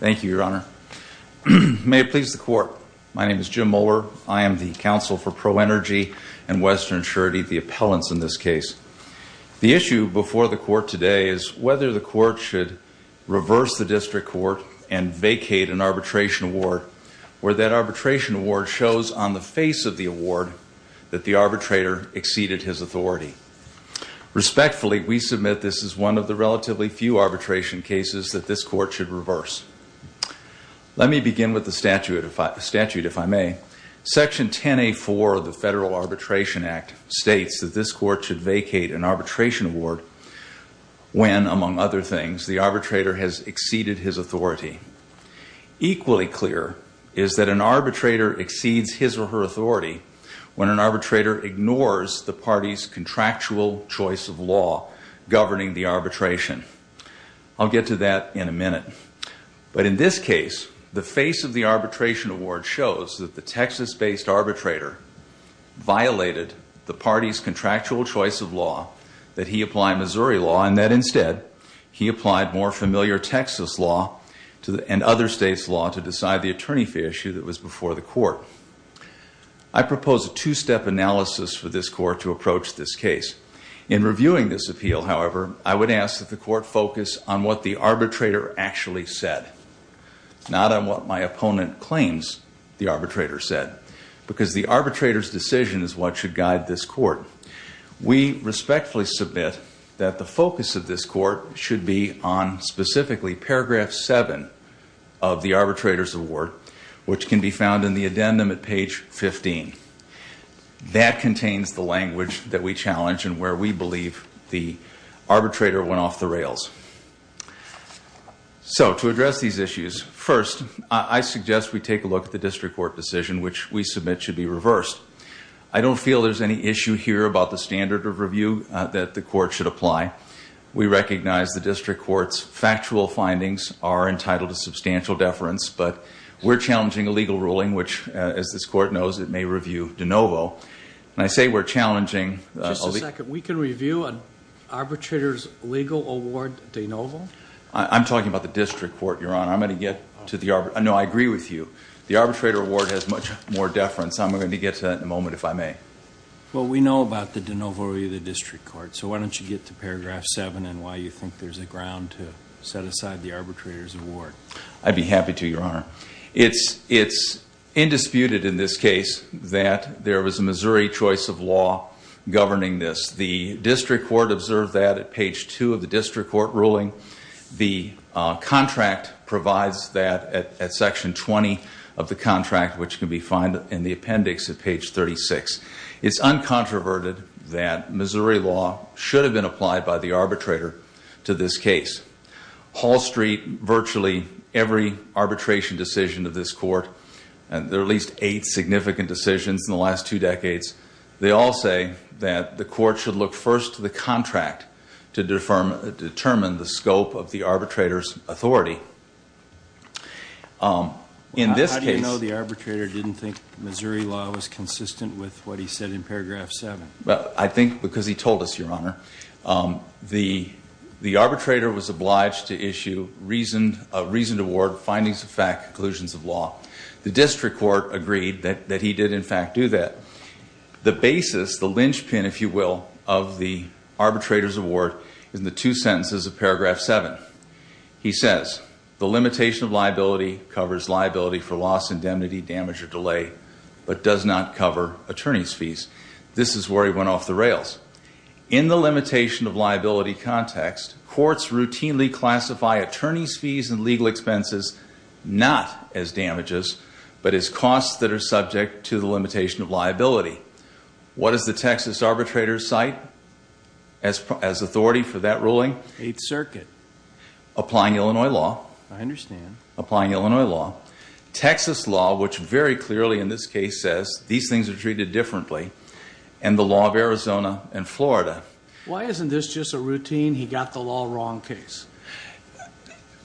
Thank you, Your Honor. May it please the Court, my name is Jim Mohler. I am the counsel for ProEnergy and Western Surety, the appellants in this case. The issue before the Court today is whether the Court should reverse the District Court and vacate an arbitration award, where that arbitration award shows on the face of the award that the arbitrator exceeded his authority. Respectfully, we submit this is one of the relatively few arbitration cases that this Court should reverse. Let me begin with the statute, if I may. Section 10A.4 of the Federal Arbitration Act states that this Court should vacate an arbitration award when, among other things, the arbitrator has exceeded his authority. Equally clear is that an arbitrator exceeds his or her authority when an arbitrator ignores the party's contractual choice of law governing the arbitration. I'll get to that in a minute. But in this case, the face of the arbitration award shows that the Texas-based arbitrator violated the party's contractual choice of law, that he applied Missouri law, and that, instead, he applied more familiar Texas law and other states' law to decide the attorney fee issue that was before the Court. I propose a two-step analysis for this Court to approach this case. In reviewing this appeal, however, I would ask that the Court focus on what the arbitrator actually said, not on what my opponent claims the arbitrator said, because the arbitrator's decision is what should guide this Court. We respectfully submit that the focus of this Court should be on specifically paragraph 7 of the arbitrator's award, which can be found in the addendum at page 15. That contains the language that we challenge and where we believe the arbitrator went off the rails. So, to address these issues, first, I suggest we take a look at the district court decision, which we submit should be reversed. I don't feel there's any issue here about the standard of review that the Court should apply. We recognize the district court's factual findings are entitled to substantial deference, but we're challenging a legal ruling, which, as this Court knows, it may review de novo. And I say we're challenging... Just a second. We can review an arbitrator's legal award de novo? I'm talking about the district court, Your Honor. I'm going to get to the... No, I agree with you. The arbitrator award has much more deference. I'm going to get to that in a moment, if I may. Well, we know about the de novo review of the district court, so why don't you get to paragraph 7 and why you think there's a ground to set aside the arbitrator's award. I'd be happy to, Your Honor. It's indisputed in this case that there was a Missouri choice of law governing this. The district court observed that at page 2 of the district court ruling. The contract provides that at section 20 of the contract, which can be found in the appendix at page 36. It's uncontroverted that Missouri law should have been applied by the arbitrator to this case. Hall Street, virtually every arbitration decision of this court, and there are at least eight significant decisions in the last two decades, they all say that the court should look first to the contract to determine the scope of the arbitrator's authority. How do you know the arbitrator didn't think Missouri law was consistent with what he said in paragraph 7? I think because he told us, Your Honor. The arbitrator was obliged to issue a reasoned award, findings of fact, conclusions of law. The district court agreed that he did, in fact, do that. The basis, the linchpin, if you will, of the arbitrator's award is in the two sentences of paragraph 7. He says, the limitation of liability covers liability for loss, indemnity, damage, or delay, but does not cover attorney's fees. This is where he went off the rails. In the limitation of liability context, courts routinely classify attorney's fees and legal expenses not as damages, but as costs that are subject to the limitation of liability. What does the Texas arbitrator cite as authority for that ruling? Eighth Circuit. Applying Illinois law. I understand. Applying Illinois law. Texas law, which very clearly in this case says these things are treated differently. And the law of Arizona and Florida. Why isn't this just a routine, he got the law wrong case?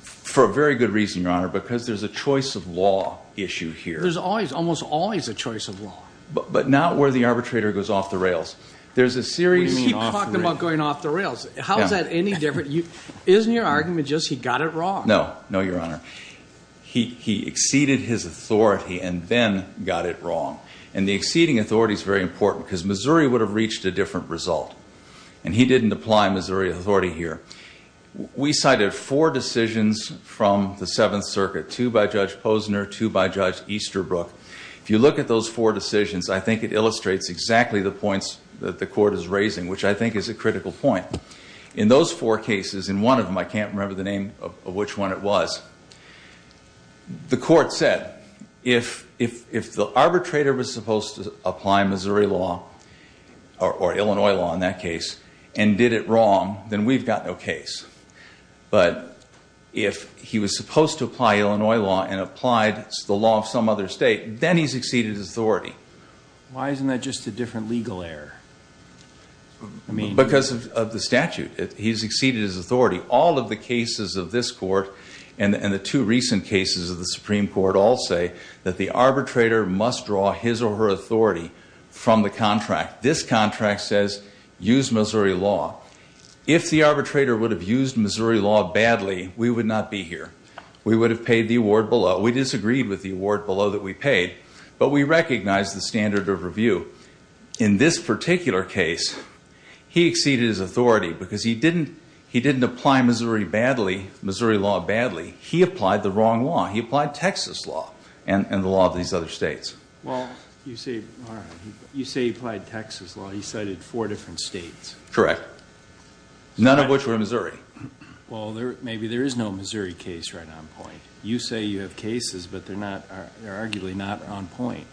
For a very good reason, Your Honor, because there's a choice of law issue here. There's always, almost always a choice of law. But not where the arbitrator goes off the rails. There's a series. He talked about going off the rails. How is that any different? Isn't your argument just he got it wrong? No. No, Your Honor. He exceeded his authority and then got it wrong. And the exceeding authority is very important because Missouri would have reached a different result. And he didn't apply Missouri authority here. We cited four decisions from the Seventh Circuit, two by Judge Posner, two by Judge Easterbrook. If you look at those four decisions, I think it illustrates exactly the points that the court is raising, which I think is a critical point. In those four cases, in one of them, I can't remember the name of which one it was, the court said, if the arbitrator was supposed to apply Missouri law or Illinois law in that case and did it wrong, then we've got no case. But if he was supposed to apply Illinois law and applied the law of some other state, then he's exceeded his authority. Why isn't that just a different legal error? Because of the statute. He's exceeded his authority. All of the cases of this court and the two recent cases of the Supreme Court all say that the arbitrator must draw his or her authority from the contract. This contract says use Missouri law. If the arbitrator would have used Missouri law badly, we would not be here. We would have paid the award below. We disagreed with the award below that we paid, but we recognized the standard of review. In this particular case, he exceeded his authority because he didn't apply Missouri law badly. He applied the wrong law. He applied Texas law and the law of these other states. Well, you say he applied Texas law. He cited four different states. Correct. None of which were Missouri. Well, maybe there is no Missouri case right on point. You say you have cases, but they're arguably not on point.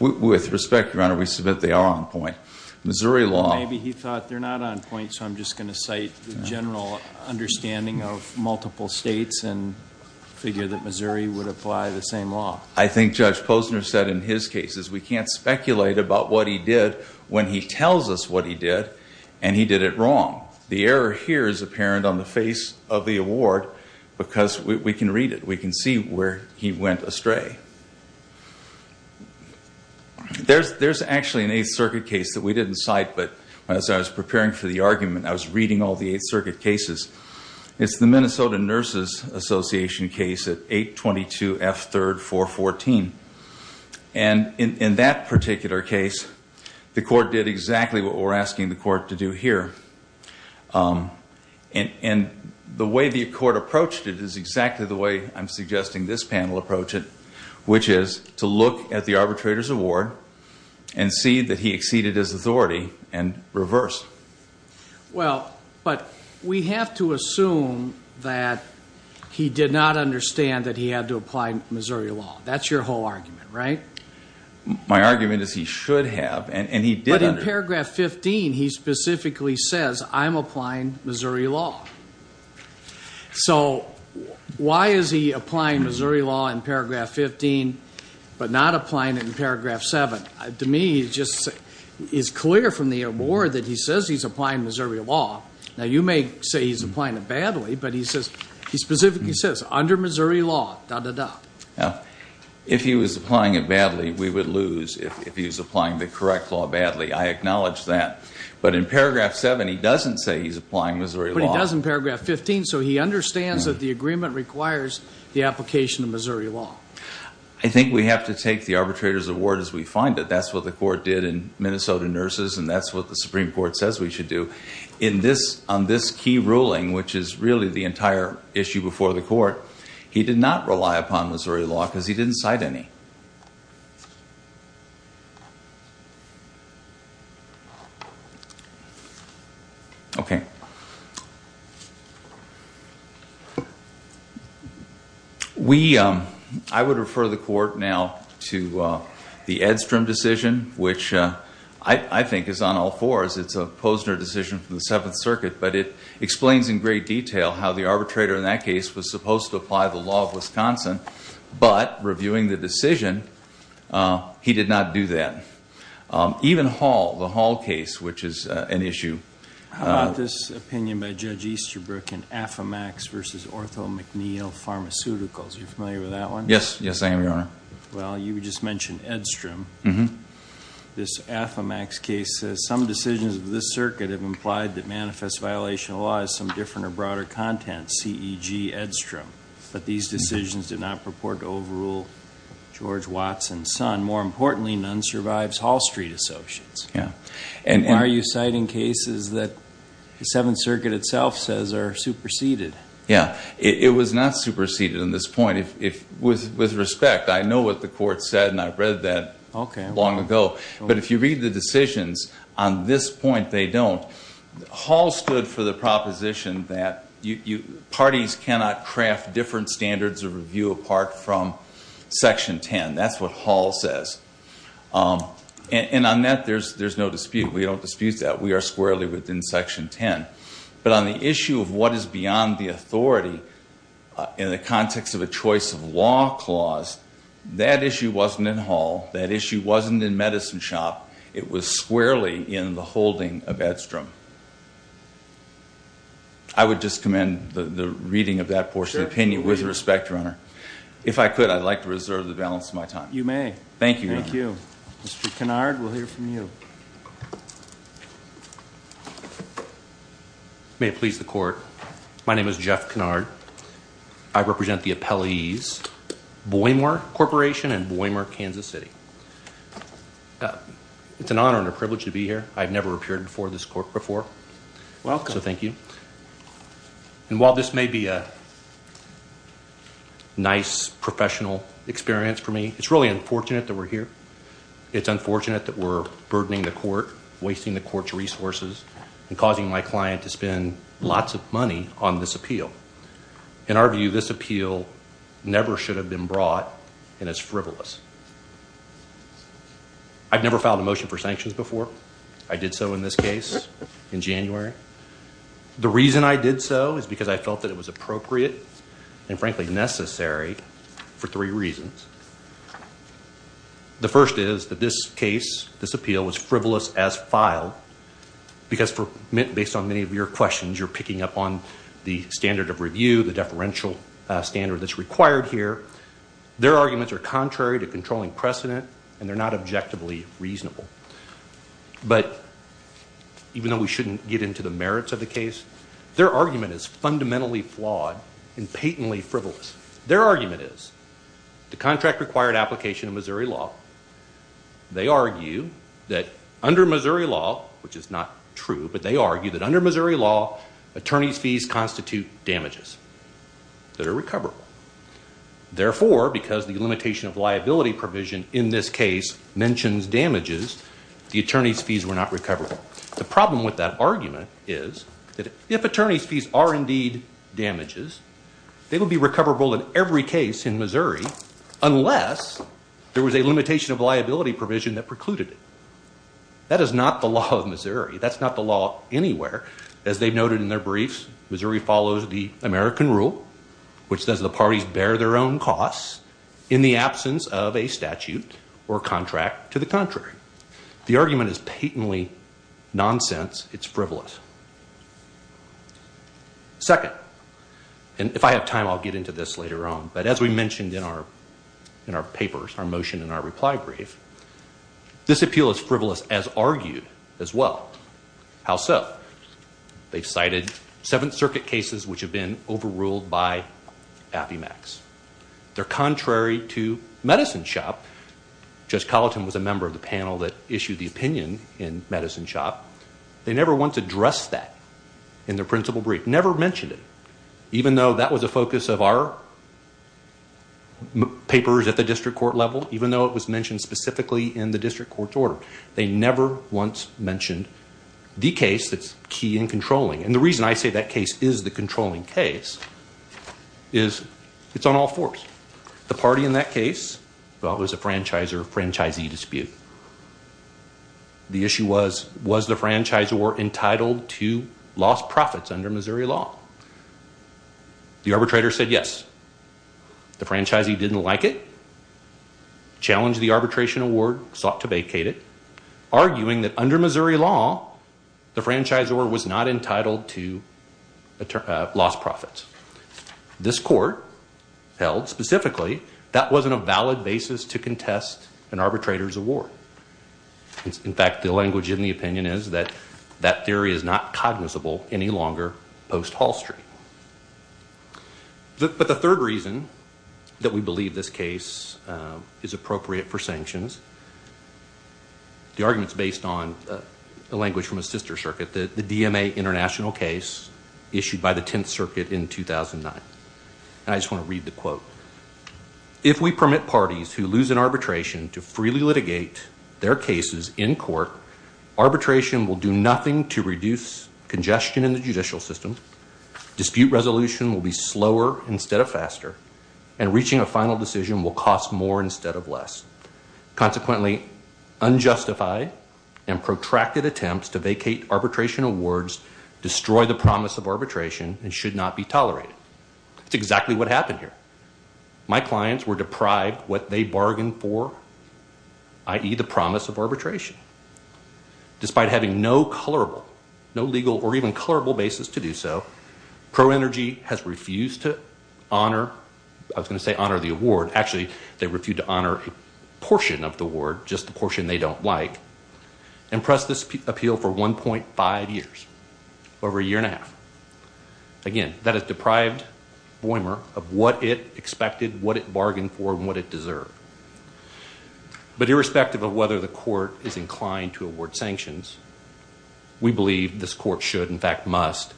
With respect, Your Honor, we submit they are on point. Missouri law. Maybe he thought they're not on point, so I'm just going to cite the general understanding of multiple states and figure that Missouri would apply the same law. I think Judge Posner said in his cases we can't speculate about what he did when he tells us what he did and he did it wrong. The error here is apparent on the face of the award because we can read it. Okay. There's actually an Eighth Circuit case that we didn't cite, but as I was preparing for the argument, I was reading all the Eighth Circuit cases. It's the Minnesota Nurses Association case at 822F3-414. In that particular case, the court did exactly what we're asking the court to do here. And the way the court approached it is exactly the way I'm suggesting this panel approach it, which is to look at the arbitrator's award and see that he exceeded his authority and reverse. Well, but we have to assume that he did not understand that he had to apply Missouri law. That's your whole argument, right? My argument is he should have, and he did. In Paragraph 15, he specifically says, I'm applying Missouri law. So why is he applying Missouri law in Paragraph 15 but not applying it in Paragraph 7? To me, it just is clear from the award that he says he's applying Missouri law. Now, you may say he's applying it badly, but he specifically says, under Missouri law, da-da-da. If he was applying it badly, we would lose if he was applying the correct law badly. I acknowledge that. But in Paragraph 7, he doesn't say he's applying Missouri law. But he does in Paragraph 15, so he understands that the agreement requires the application of Missouri law. I think we have to take the arbitrator's award as we find it. That's what the court did in Minnesota nurses, and that's what the Supreme Court says we should do. On this key ruling, which is really the entire issue before the court, he did not rely upon Missouri law because he didn't cite any. I would refer the court now to the Edstrom decision, which I think is on all fours. It's a Posner decision from the Seventh Circuit, but it explains in great detail how the arbitrator in that case was supposed to apply the law of Wisconsin. But reviewing the decision, he did not do that. Even Hall, the Hall case, which is an issue. How about this opinion by Judge Easterbrook in Affomax v. Ortho McNeil Pharmaceuticals? Are you familiar with that one? Yes. Yes, I am, Your Honor. Well, you just mentioned Edstrom. This Affomax case says, Why are you citing cases that the Seventh Circuit itself says are superseded? It was not superseded on this point. With respect, I know what the court said, and I've read that. But if you read the decisions on this point, they don't. Hall stood for the proposition that parties cannot craft different standards of review apart from Section 10. That's what Hall says. And on that, there's no dispute. We don't dispute that. We are squarely within Section 10. But on the issue of what is beyond the authority in the context of a choice of law clause, that issue wasn't in Hall. That issue wasn't in Medicine Shop. It was squarely in the holding of Edstrom. I would just commend the reading of that portion of the opinion. With respect, Your Honor, if I could, I'd like to reserve the balance of my time. You may. Thank you, Your Honor. Mr. Kennard, we'll hear from you. May it please the Court. My name is Jeff Kennard. I represent the appellees, Boymar Corporation and Boymar, Kansas City. It's an honor and a privilege to be here. I've never appeared before this court before. Welcome. So thank you. And while this may be a nice professional experience for me, it's really unfortunate that we're here. It's unfortunate that we're burdening the court, wasting the court's resources, and causing my client to spend lots of money on this appeal. In our view, this appeal never should have been brought, and it's frivolous. I've never filed a motion for sanctions before. I did so in this case in January. The reason I did so is because I felt that it was appropriate and, frankly, necessary for three reasons. The first is that this case, this appeal, was frivolous as filed, because based on many of your questions, you're picking up on the standard of review, the deferential standard that's required here. Their arguments are contrary to controlling precedent, and they're not objectively reasonable. But even though we shouldn't get into the merits of the case, their argument is fundamentally flawed and patently frivolous. Their argument is the contract required application of Missouri law. They argue that under Missouri law, which is not true, but they argue that under Missouri law, attorney's fees constitute damages that are recoverable. Therefore, because the limitation of liability provision in this case mentions damages, the attorney's fees were not recoverable. The problem with that argument is that if attorney's fees are indeed damages, they would be recoverable in every case in Missouri unless there was a limitation of liability provision that precluded it. That is not the law of Missouri. That's not the law anywhere. As they've noted in their briefs, Missouri follows the American rule, which says the parties bear their own costs in the absence of a statute or contract to the contrary. The argument is patently nonsense. It's frivolous. Second, and if I have time, I'll get into this later on. But as we mentioned in our papers, our motion and our reply brief, this appeal is frivolous as argued as well. How so? They've cited Seventh Circuit cases which have been overruled by Appymax. They're contrary to Medicine Shop. Judge Colleton was a member of the panel that issued the opinion in Medicine Shop. They never once addressed that in their principal brief, never mentioned it, even though that was a focus of our papers at the district court level, even though it was mentioned specifically in the district court's order. They never once mentioned the case that's key in controlling. And the reason I say that case is the controlling case is it's on all fours. The party in that case, well, it was a franchisee dispute. The issue was, was the franchisor entitled to lost profits under Missouri law? The arbitrator said yes. The franchisee didn't like it, challenged the arbitration award, sought to vacate it, arguing that under Missouri law, the franchisor was not entitled to lost profits. This court held specifically that wasn't a valid basis to contest an arbitrator's award. In fact, the language in the opinion is that that theory is not cognizable any longer post-Hall Street. But the third reason that we believe this case is appropriate for sanctions, the argument's based on the language from a sister circuit, the DMA international case issued by the Tenth Circuit in 2009. And I just want to read the quote. If we permit parties who lose in arbitration to freely litigate their cases in court, arbitration will do nothing to reduce congestion in the judicial system, dispute resolution will be slower instead of faster, Consequently, unjustified and protracted attempts to vacate arbitration awards destroy the promise of arbitration and should not be tolerated. That's exactly what happened here. My clients were deprived what they bargained for, i.e., the promise of arbitration. Despite having no colorable, no legal or even colorable basis to do so, Pro Energy has refused to honor, I was going to say honor the award, actually, they refused to honor a portion of the award, just the portion they don't like, and pressed this appeal for 1.5 years, over a year and a half. Again, that has deprived Boehmer of what it expected, what it bargained for, and what it deserved. But irrespective of whether the court is inclined to award sanctions, we believe this court should, in fact, must,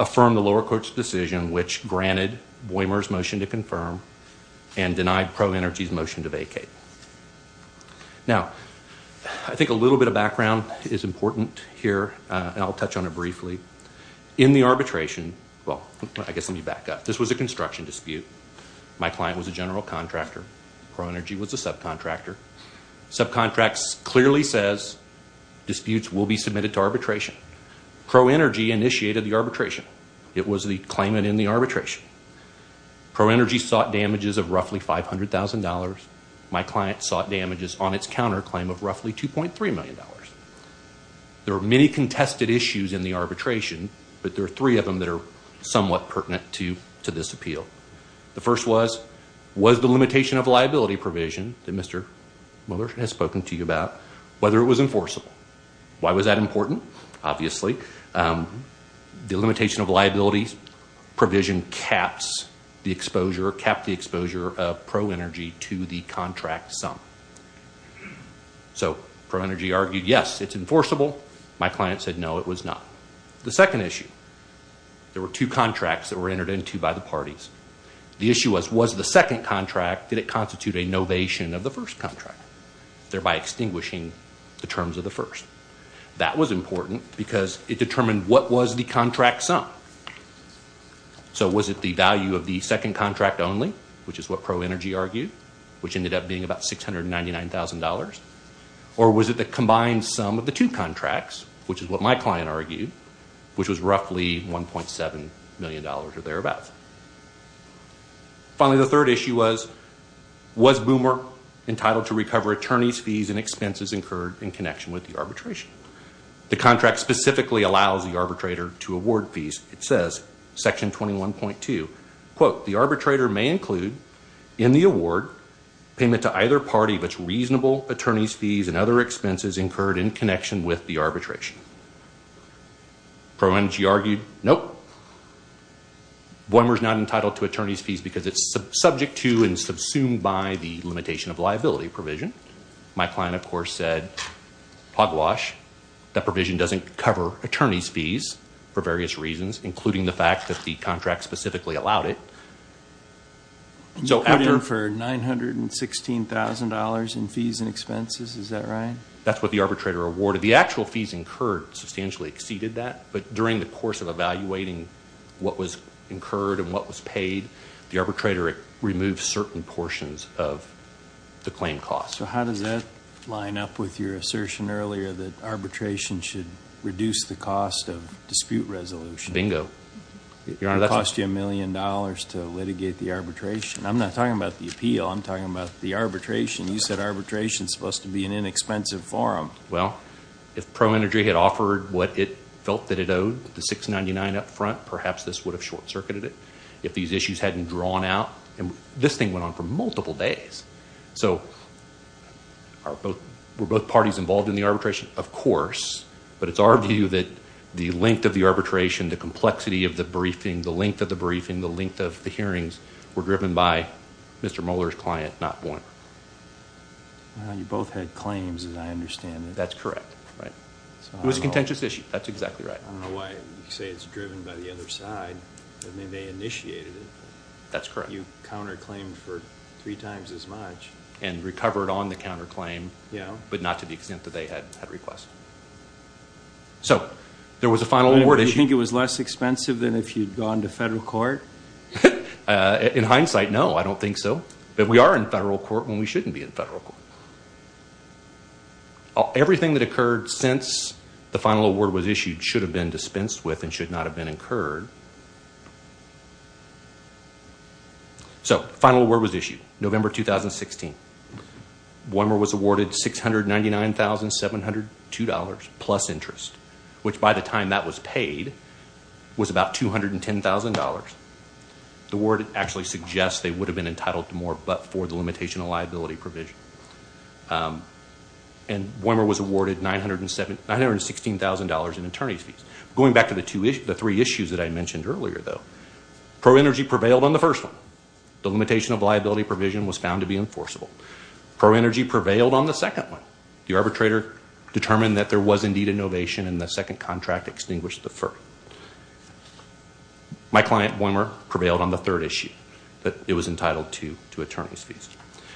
affirm the lower court's decision which granted Boehmer's motion to confirm and denied Pro Energy's motion to vacate. Now, I think a little bit of background is important here, and I'll touch on it briefly. In the arbitration, well, I guess let me back up. This was a construction dispute. My client was a general contractor. Pro Energy was a subcontractor. Subcontracts clearly says disputes will be submitted to arbitration. Pro Energy initiated the arbitration. It was the claimant in the arbitration. Pro Energy sought damages of roughly $500,000. My client sought damages on its counter claim of roughly $2.3 million. There are many contested issues in the arbitration, but there are three of them that are somewhat pertinent to this appeal. The first was, was the limitation of liability provision that Mr. Mueller has spoken to you about, whether it was enforceable? Why was that important? Obviously, the limitation of liability provision caps the exposure, capped the exposure of Pro Energy to the contract sum. So Pro Energy argued, yes, it's enforceable. My client said, no, it was not. The second issue, there were two contracts that were entered into by the parties. The issue was, was the second contract, did it constitute a novation of the first contract, thereby extinguishing the terms of the first? That was important because it determined what was the contract sum. So was it the value of the second contract only, which is what Pro Energy argued, which ended up being about $699,000, or was it the combined sum of the two contracts, which is what my client argued, which was roughly $1.7 million or thereabouts? Finally, the third issue was, was Boomer entitled to recover attorney's fees and expenses incurred in connection with the arbitration? The contract specifically allows the arbitrator to award fees. It says, Section 21.2, quote, the arbitrator may include in the award payment to either party which reasonable attorney's fees and other expenses incurred in connection with the arbitration. Pro Energy argued, nope. Boomer's not entitled to attorney's fees because it's subject to and subsumed by the limitation of liability provision. My client, of course, said, hogwash, that provision doesn't cover attorney's fees for various reasons, including the fact that the contract specifically allowed it. You put in for $916,000 in fees and expenses, is that right? That's what the arbitrator awarded. The actual fees incurred substantially exceeded that, but during the course of evaluating what was incurred and what was paid, the arbitrator removed certain portions of the claim cost. So how does that line up with your assertion earlier that arbitration should reduce the cost of dispute resolution? Bingo. It would cost you $1 million to litigate the arbitration. I'm not talking about the appeal. I'm talking about the arbitration. You said arbitration is supposed to be an inexpensive forum. Well, if Pro Energy had offered what it felt that it owed, the $699 up front, perhaps this would have short-circuited it. If these issues hadn't drawn out, this thing went on for multiple days. So were both parties involved in the arbitration? Of course, but it's our view that the length of the arbitration, the complexity of the briefing, the length of the briefing, the length of the hearings were driven by Mr. Mueller's client, not one. You both had claims, as I understand it. That's correct. It was a contentious issue. That's exactly right. I don't know why you say it's driven by the other side. I mean, they initiated it. That's correct. You counterclaimed for three times as much. And recovered on the counterclaim, but not to the extent that they had requests. So there was a final award issue. Do you think it was less expensive than if you'd gone to federal court? In hindsight, no, I don't think so. But we are in federal court when we shouldn't be in federal court. Everything that occurred since the final award was issued should have been dispensed with and should not have been incurred. So final award was issued, November 2016. One was awarded $699,702 plus interest, which by the time that was paid was about $210,000. The word actually suggests they would have been entitled to more but for the limitation of liability provision. And Woymer was awarded $916,000 in attorney's fees. Going back to the three issues that I mentioned earlier, though, pro-energy prevailed on the first one. The limitation of liability provision was found to be enforceable. Pro-energy prevailed on the second one. The arbitrator determined that there was indeed a novation and the second contract extinguished the first. My client, Woymer, prevailed on the third issue that it was entitled to attorney's fees.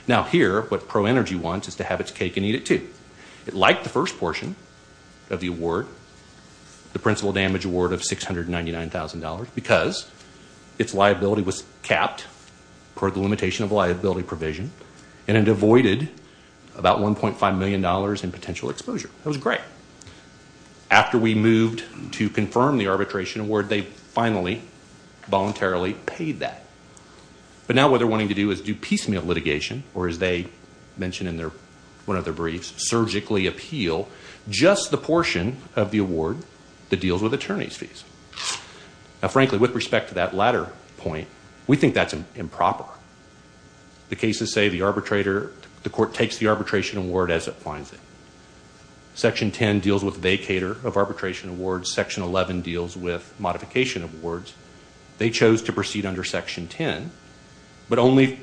Now here, what pro-energy wants is to have its cake and eat it too. It liked the first portion of the award, the principal damage award of $699,000, because its liability was capped per the limitation of liability provision and it avoided about $1.5 million in potential exposure. It was great. After we moved to confirm the arbitration award, they finally voluntarily paid that. But now what they're wanting to do is do piecemeal litigation or, as they mention in one of their briefs, surgically appeal just the portion of the award that deals with attorney's fees. Now, frankly, with respect to that latter point, we think that's improper. The cases say the arbitrator, the court takes the arbitration award as it finds it. Section 10 deals with vacator of arbitration awards. Section 11 deals with modification awards. They chose to proceed under Section 10, but only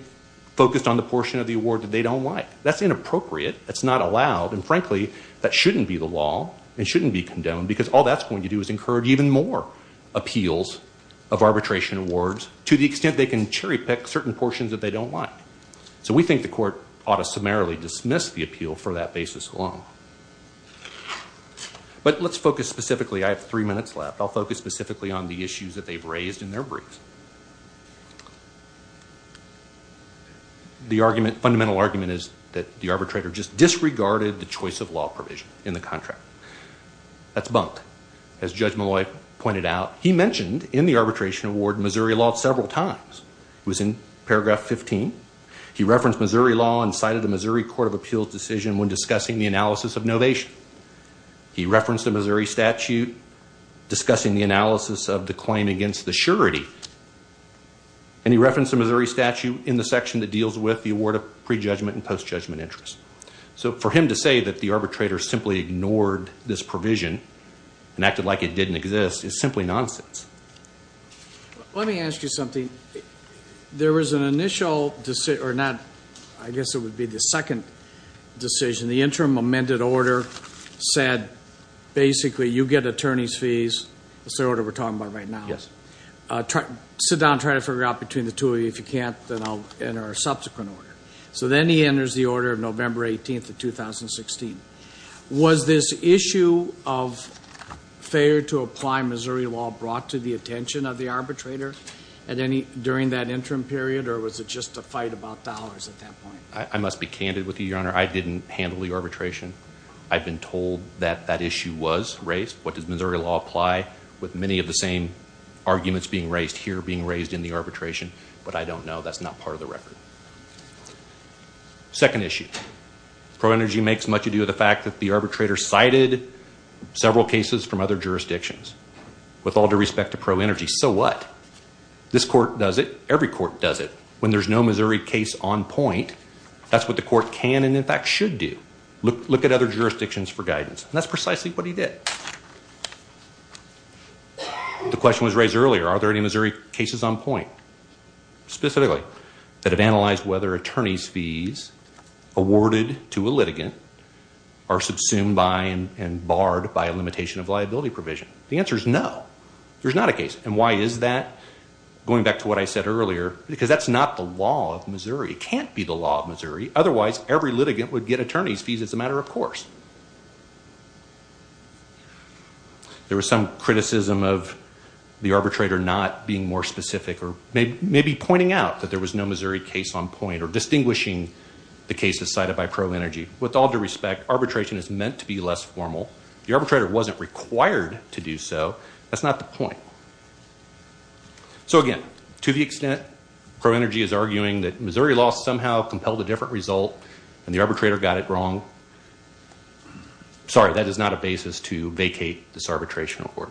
focused on the portion of the award that they don't like. That's inappropriate. That's not allowed. And, frankly, that shouldn't be the law and shouldn't be condoned, because all that's going to do is encourage even more appeals of arbitration awards to the extent they can cherry-pick certain portions that they don't like. So we think the court ought to summarily dismiss the appeal for that basis alone. But let's focus specifically. I have three minutes left. I'll focus specifically on the issues that they've raised in their briefs. The argument, fundamental argument, is that the arbitrator just disregarded the choice of law provision in the contract. That's bunked. As Judge Malloy pointed out, he mentioned in the arbitration award Missouri law several times. It was in paragraph 15. He referenced Missouri law and cited the Missouri Court of Appeals decision when discussing the analysis of novation. He referenced the Missouri statute discussing the analysis of the claim against the surety. And he referenced the Missouri statute in the section that deals with the award of pre-judgment and post-judgment interest. So for him to say that the arbitrator simply ignored this provision and acted like it didn't exist is simply nonsense. Let me ask you something. There was an initial decision, or not. I guess it would be the second decision. The interim amended order said, basically, you get attorney's fees. That's the order we're talking about right now. Sit down and try to figure out between the two of you. If you can't, then I'll enter a subsequent order. So then he enters the order of November 18th of 2016. Was this issue of failure to apply Missouri law brought to the attention of the arbitrator during that interim period, or was it just a fight about dollars at that point? I must be candid with you, Your Honor. I didn't handle the arbitration. I've been told that that issue was raised. What does Missouri law apply with many of the same arguments being raised here being raised in the arbitration? But I don't know. That's not part of the record. Second issue. ProEnergy makes much ado of the fact that the arbitrator cited several cases from other jurisdictions with all due respect to ProEnergy. So what? This court does it. Every court does it. When there's no Missouri case on point, that's what the court can and, in fact, should do. Look at other jurisdictions for guidance. And that's precisely what he did. The question was raised earlier. Are there any Missouri cases on point, specifically, that have analyzed whether attorney's fees awarded to a litigant are subsumed by and barred by a limitation of liability provision? The answer is no. There's not a case. And why is that? Going back to what I said earlier, because that's not the law of Missouri. It can't be the law of Missouri. Otherwise, every litigant would get attorney's fees. It's a matter of course. There was some criticism of the arbitrator not being more specific or maybe pointing out that there was no Missouri case on point or distinguishing the cases cited by ProEnergy. With all due respect, arbitration is meant to be less formal. The arbitrator wasn't required to do so. That's not the point. So again, to the extent ProEnergy is arguing that Missouri law somehow compelled a different result and the arbitrator got it wrong, sorry, that is not a basis to vacate this arbitration award.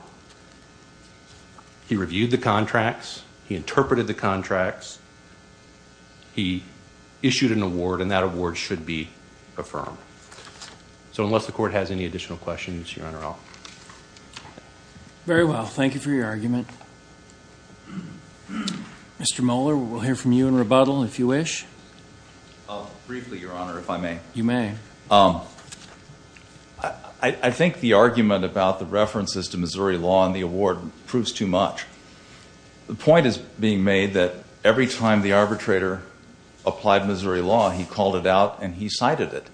He reviewed the contracts. He interpreted the contracts. He issued an award, and that award should be affirmed. So unless the Court has any additional questions, Your Honor, I'll... Very well. Thank you for your argument. Mr. Mohler, we'll hear from you in rebuttal if you wish. Briefly, Your Honor, if I may. You may. I think the argument about the references to Missouri law in the award proves too much. The point is being made that every time the arbitrator applied Missouri law, he called it out and he cited it.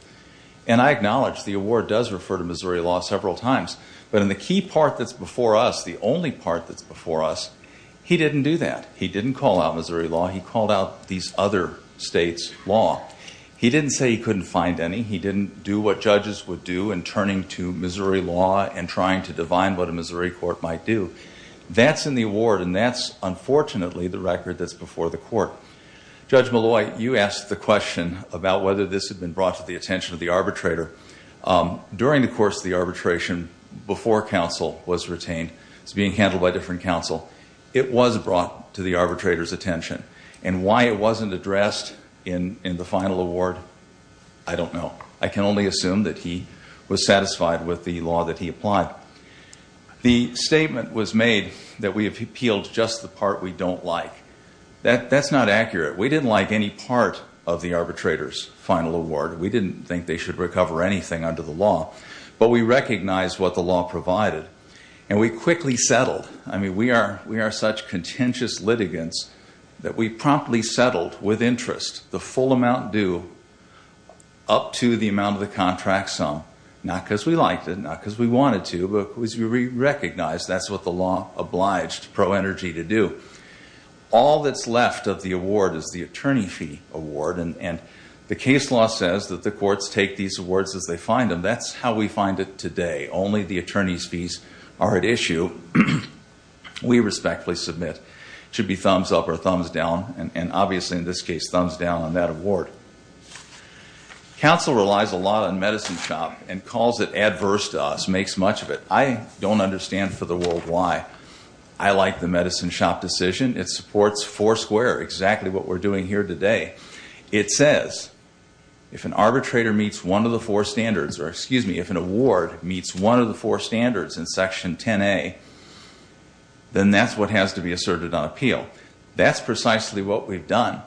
And I acknowledge the award does refer to Missouri law several times, but in the key part that's before us, the only part that's before us, he didn't do that. He didn't call out Missouri law. He called out these other states' law. He didn't say he couldn't find any. He didn't do what judges would do in turning to Missouri law and trying to divine what a Missouri court might do. That's in the award, and that's, unfortunately, the record that's before the court. Judge Malloy, you asked the question about whether this had been brought to the attention of the arbitrator. During the course of the arbitration, before counsel was retained, it's being handled by different counsel, it was brought to the arbitrator's attention. And why it wasn't addressed in the final award, I don't know. I can only assume that he was satisfied with the law that he applied. The statement was made that we have appealed just the part we don't like. That's not accurate. We didn't like any part of the arbitrator's final award. We didn't think they should recover anything under the law, but we recognized what the law provided, and we quickly settled. I mean, we are such contentious litigants that we promptly settled, with interest, the full amount due up to the amount of the contract sum, not because we liked it, not because we wanted to, but because we recognized that's what the law obliged ProEnergy to do. All that's left of the award is the attorney fee award, and the case law says that the courts take these awards as they find them. That's how we find it today. Only the attorney's fees are at issue. We respectfully submit. It should be thumbs up or thumbs down, and, obviously, in this case, thumbs down on that award. Counsel relies a lot on Medicine Shop and calls it adverse to us, makes much of it. I don't understand for the world why I like the Medicine Shop decision. It supports four square, exactly what we're doing here today. It says if an arbitrator meets one of the four standards, or, excuse me, if an award meets one of the four standards in Section 10A, then that's what has to be asserted on appeal. That's precisely what we've done.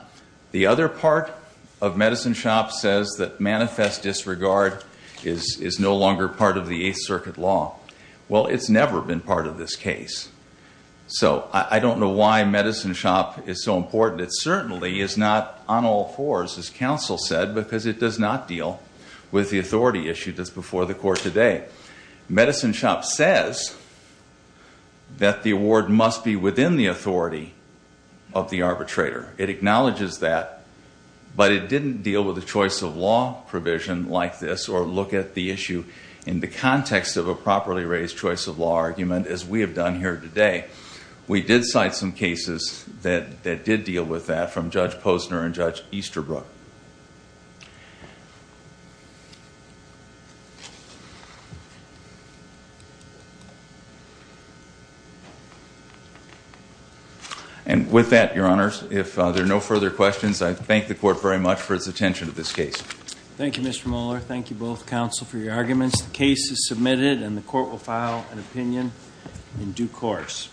The other part of Medicine Shop says that manifest disregard is no longer part of the Eighth Circuit law. Well, it's never been part of this case. So I don't know why Medicine Shop is so important. It certainly is not on all fours, as counsel said, because it does not deal with the authority issued before the court today. Medicine Shop says that the award must be within the authority of the arbitrator. It acknowledges that, but it didn't deal with a choice of law provision like this or look at the issue in the context of a properly raised choice of law argument, as we have done here today. We did cite some cases that did deal with that from Judge Posner and Judge Easterbrook. And with that, Your Honors, if there are no further questions, I thank the Court very much for its attention to this case. Thank you, Mr. Mohler. Thank you both, counsel, for your arguments. The case is submitted, and the Court will file an opinion in due course.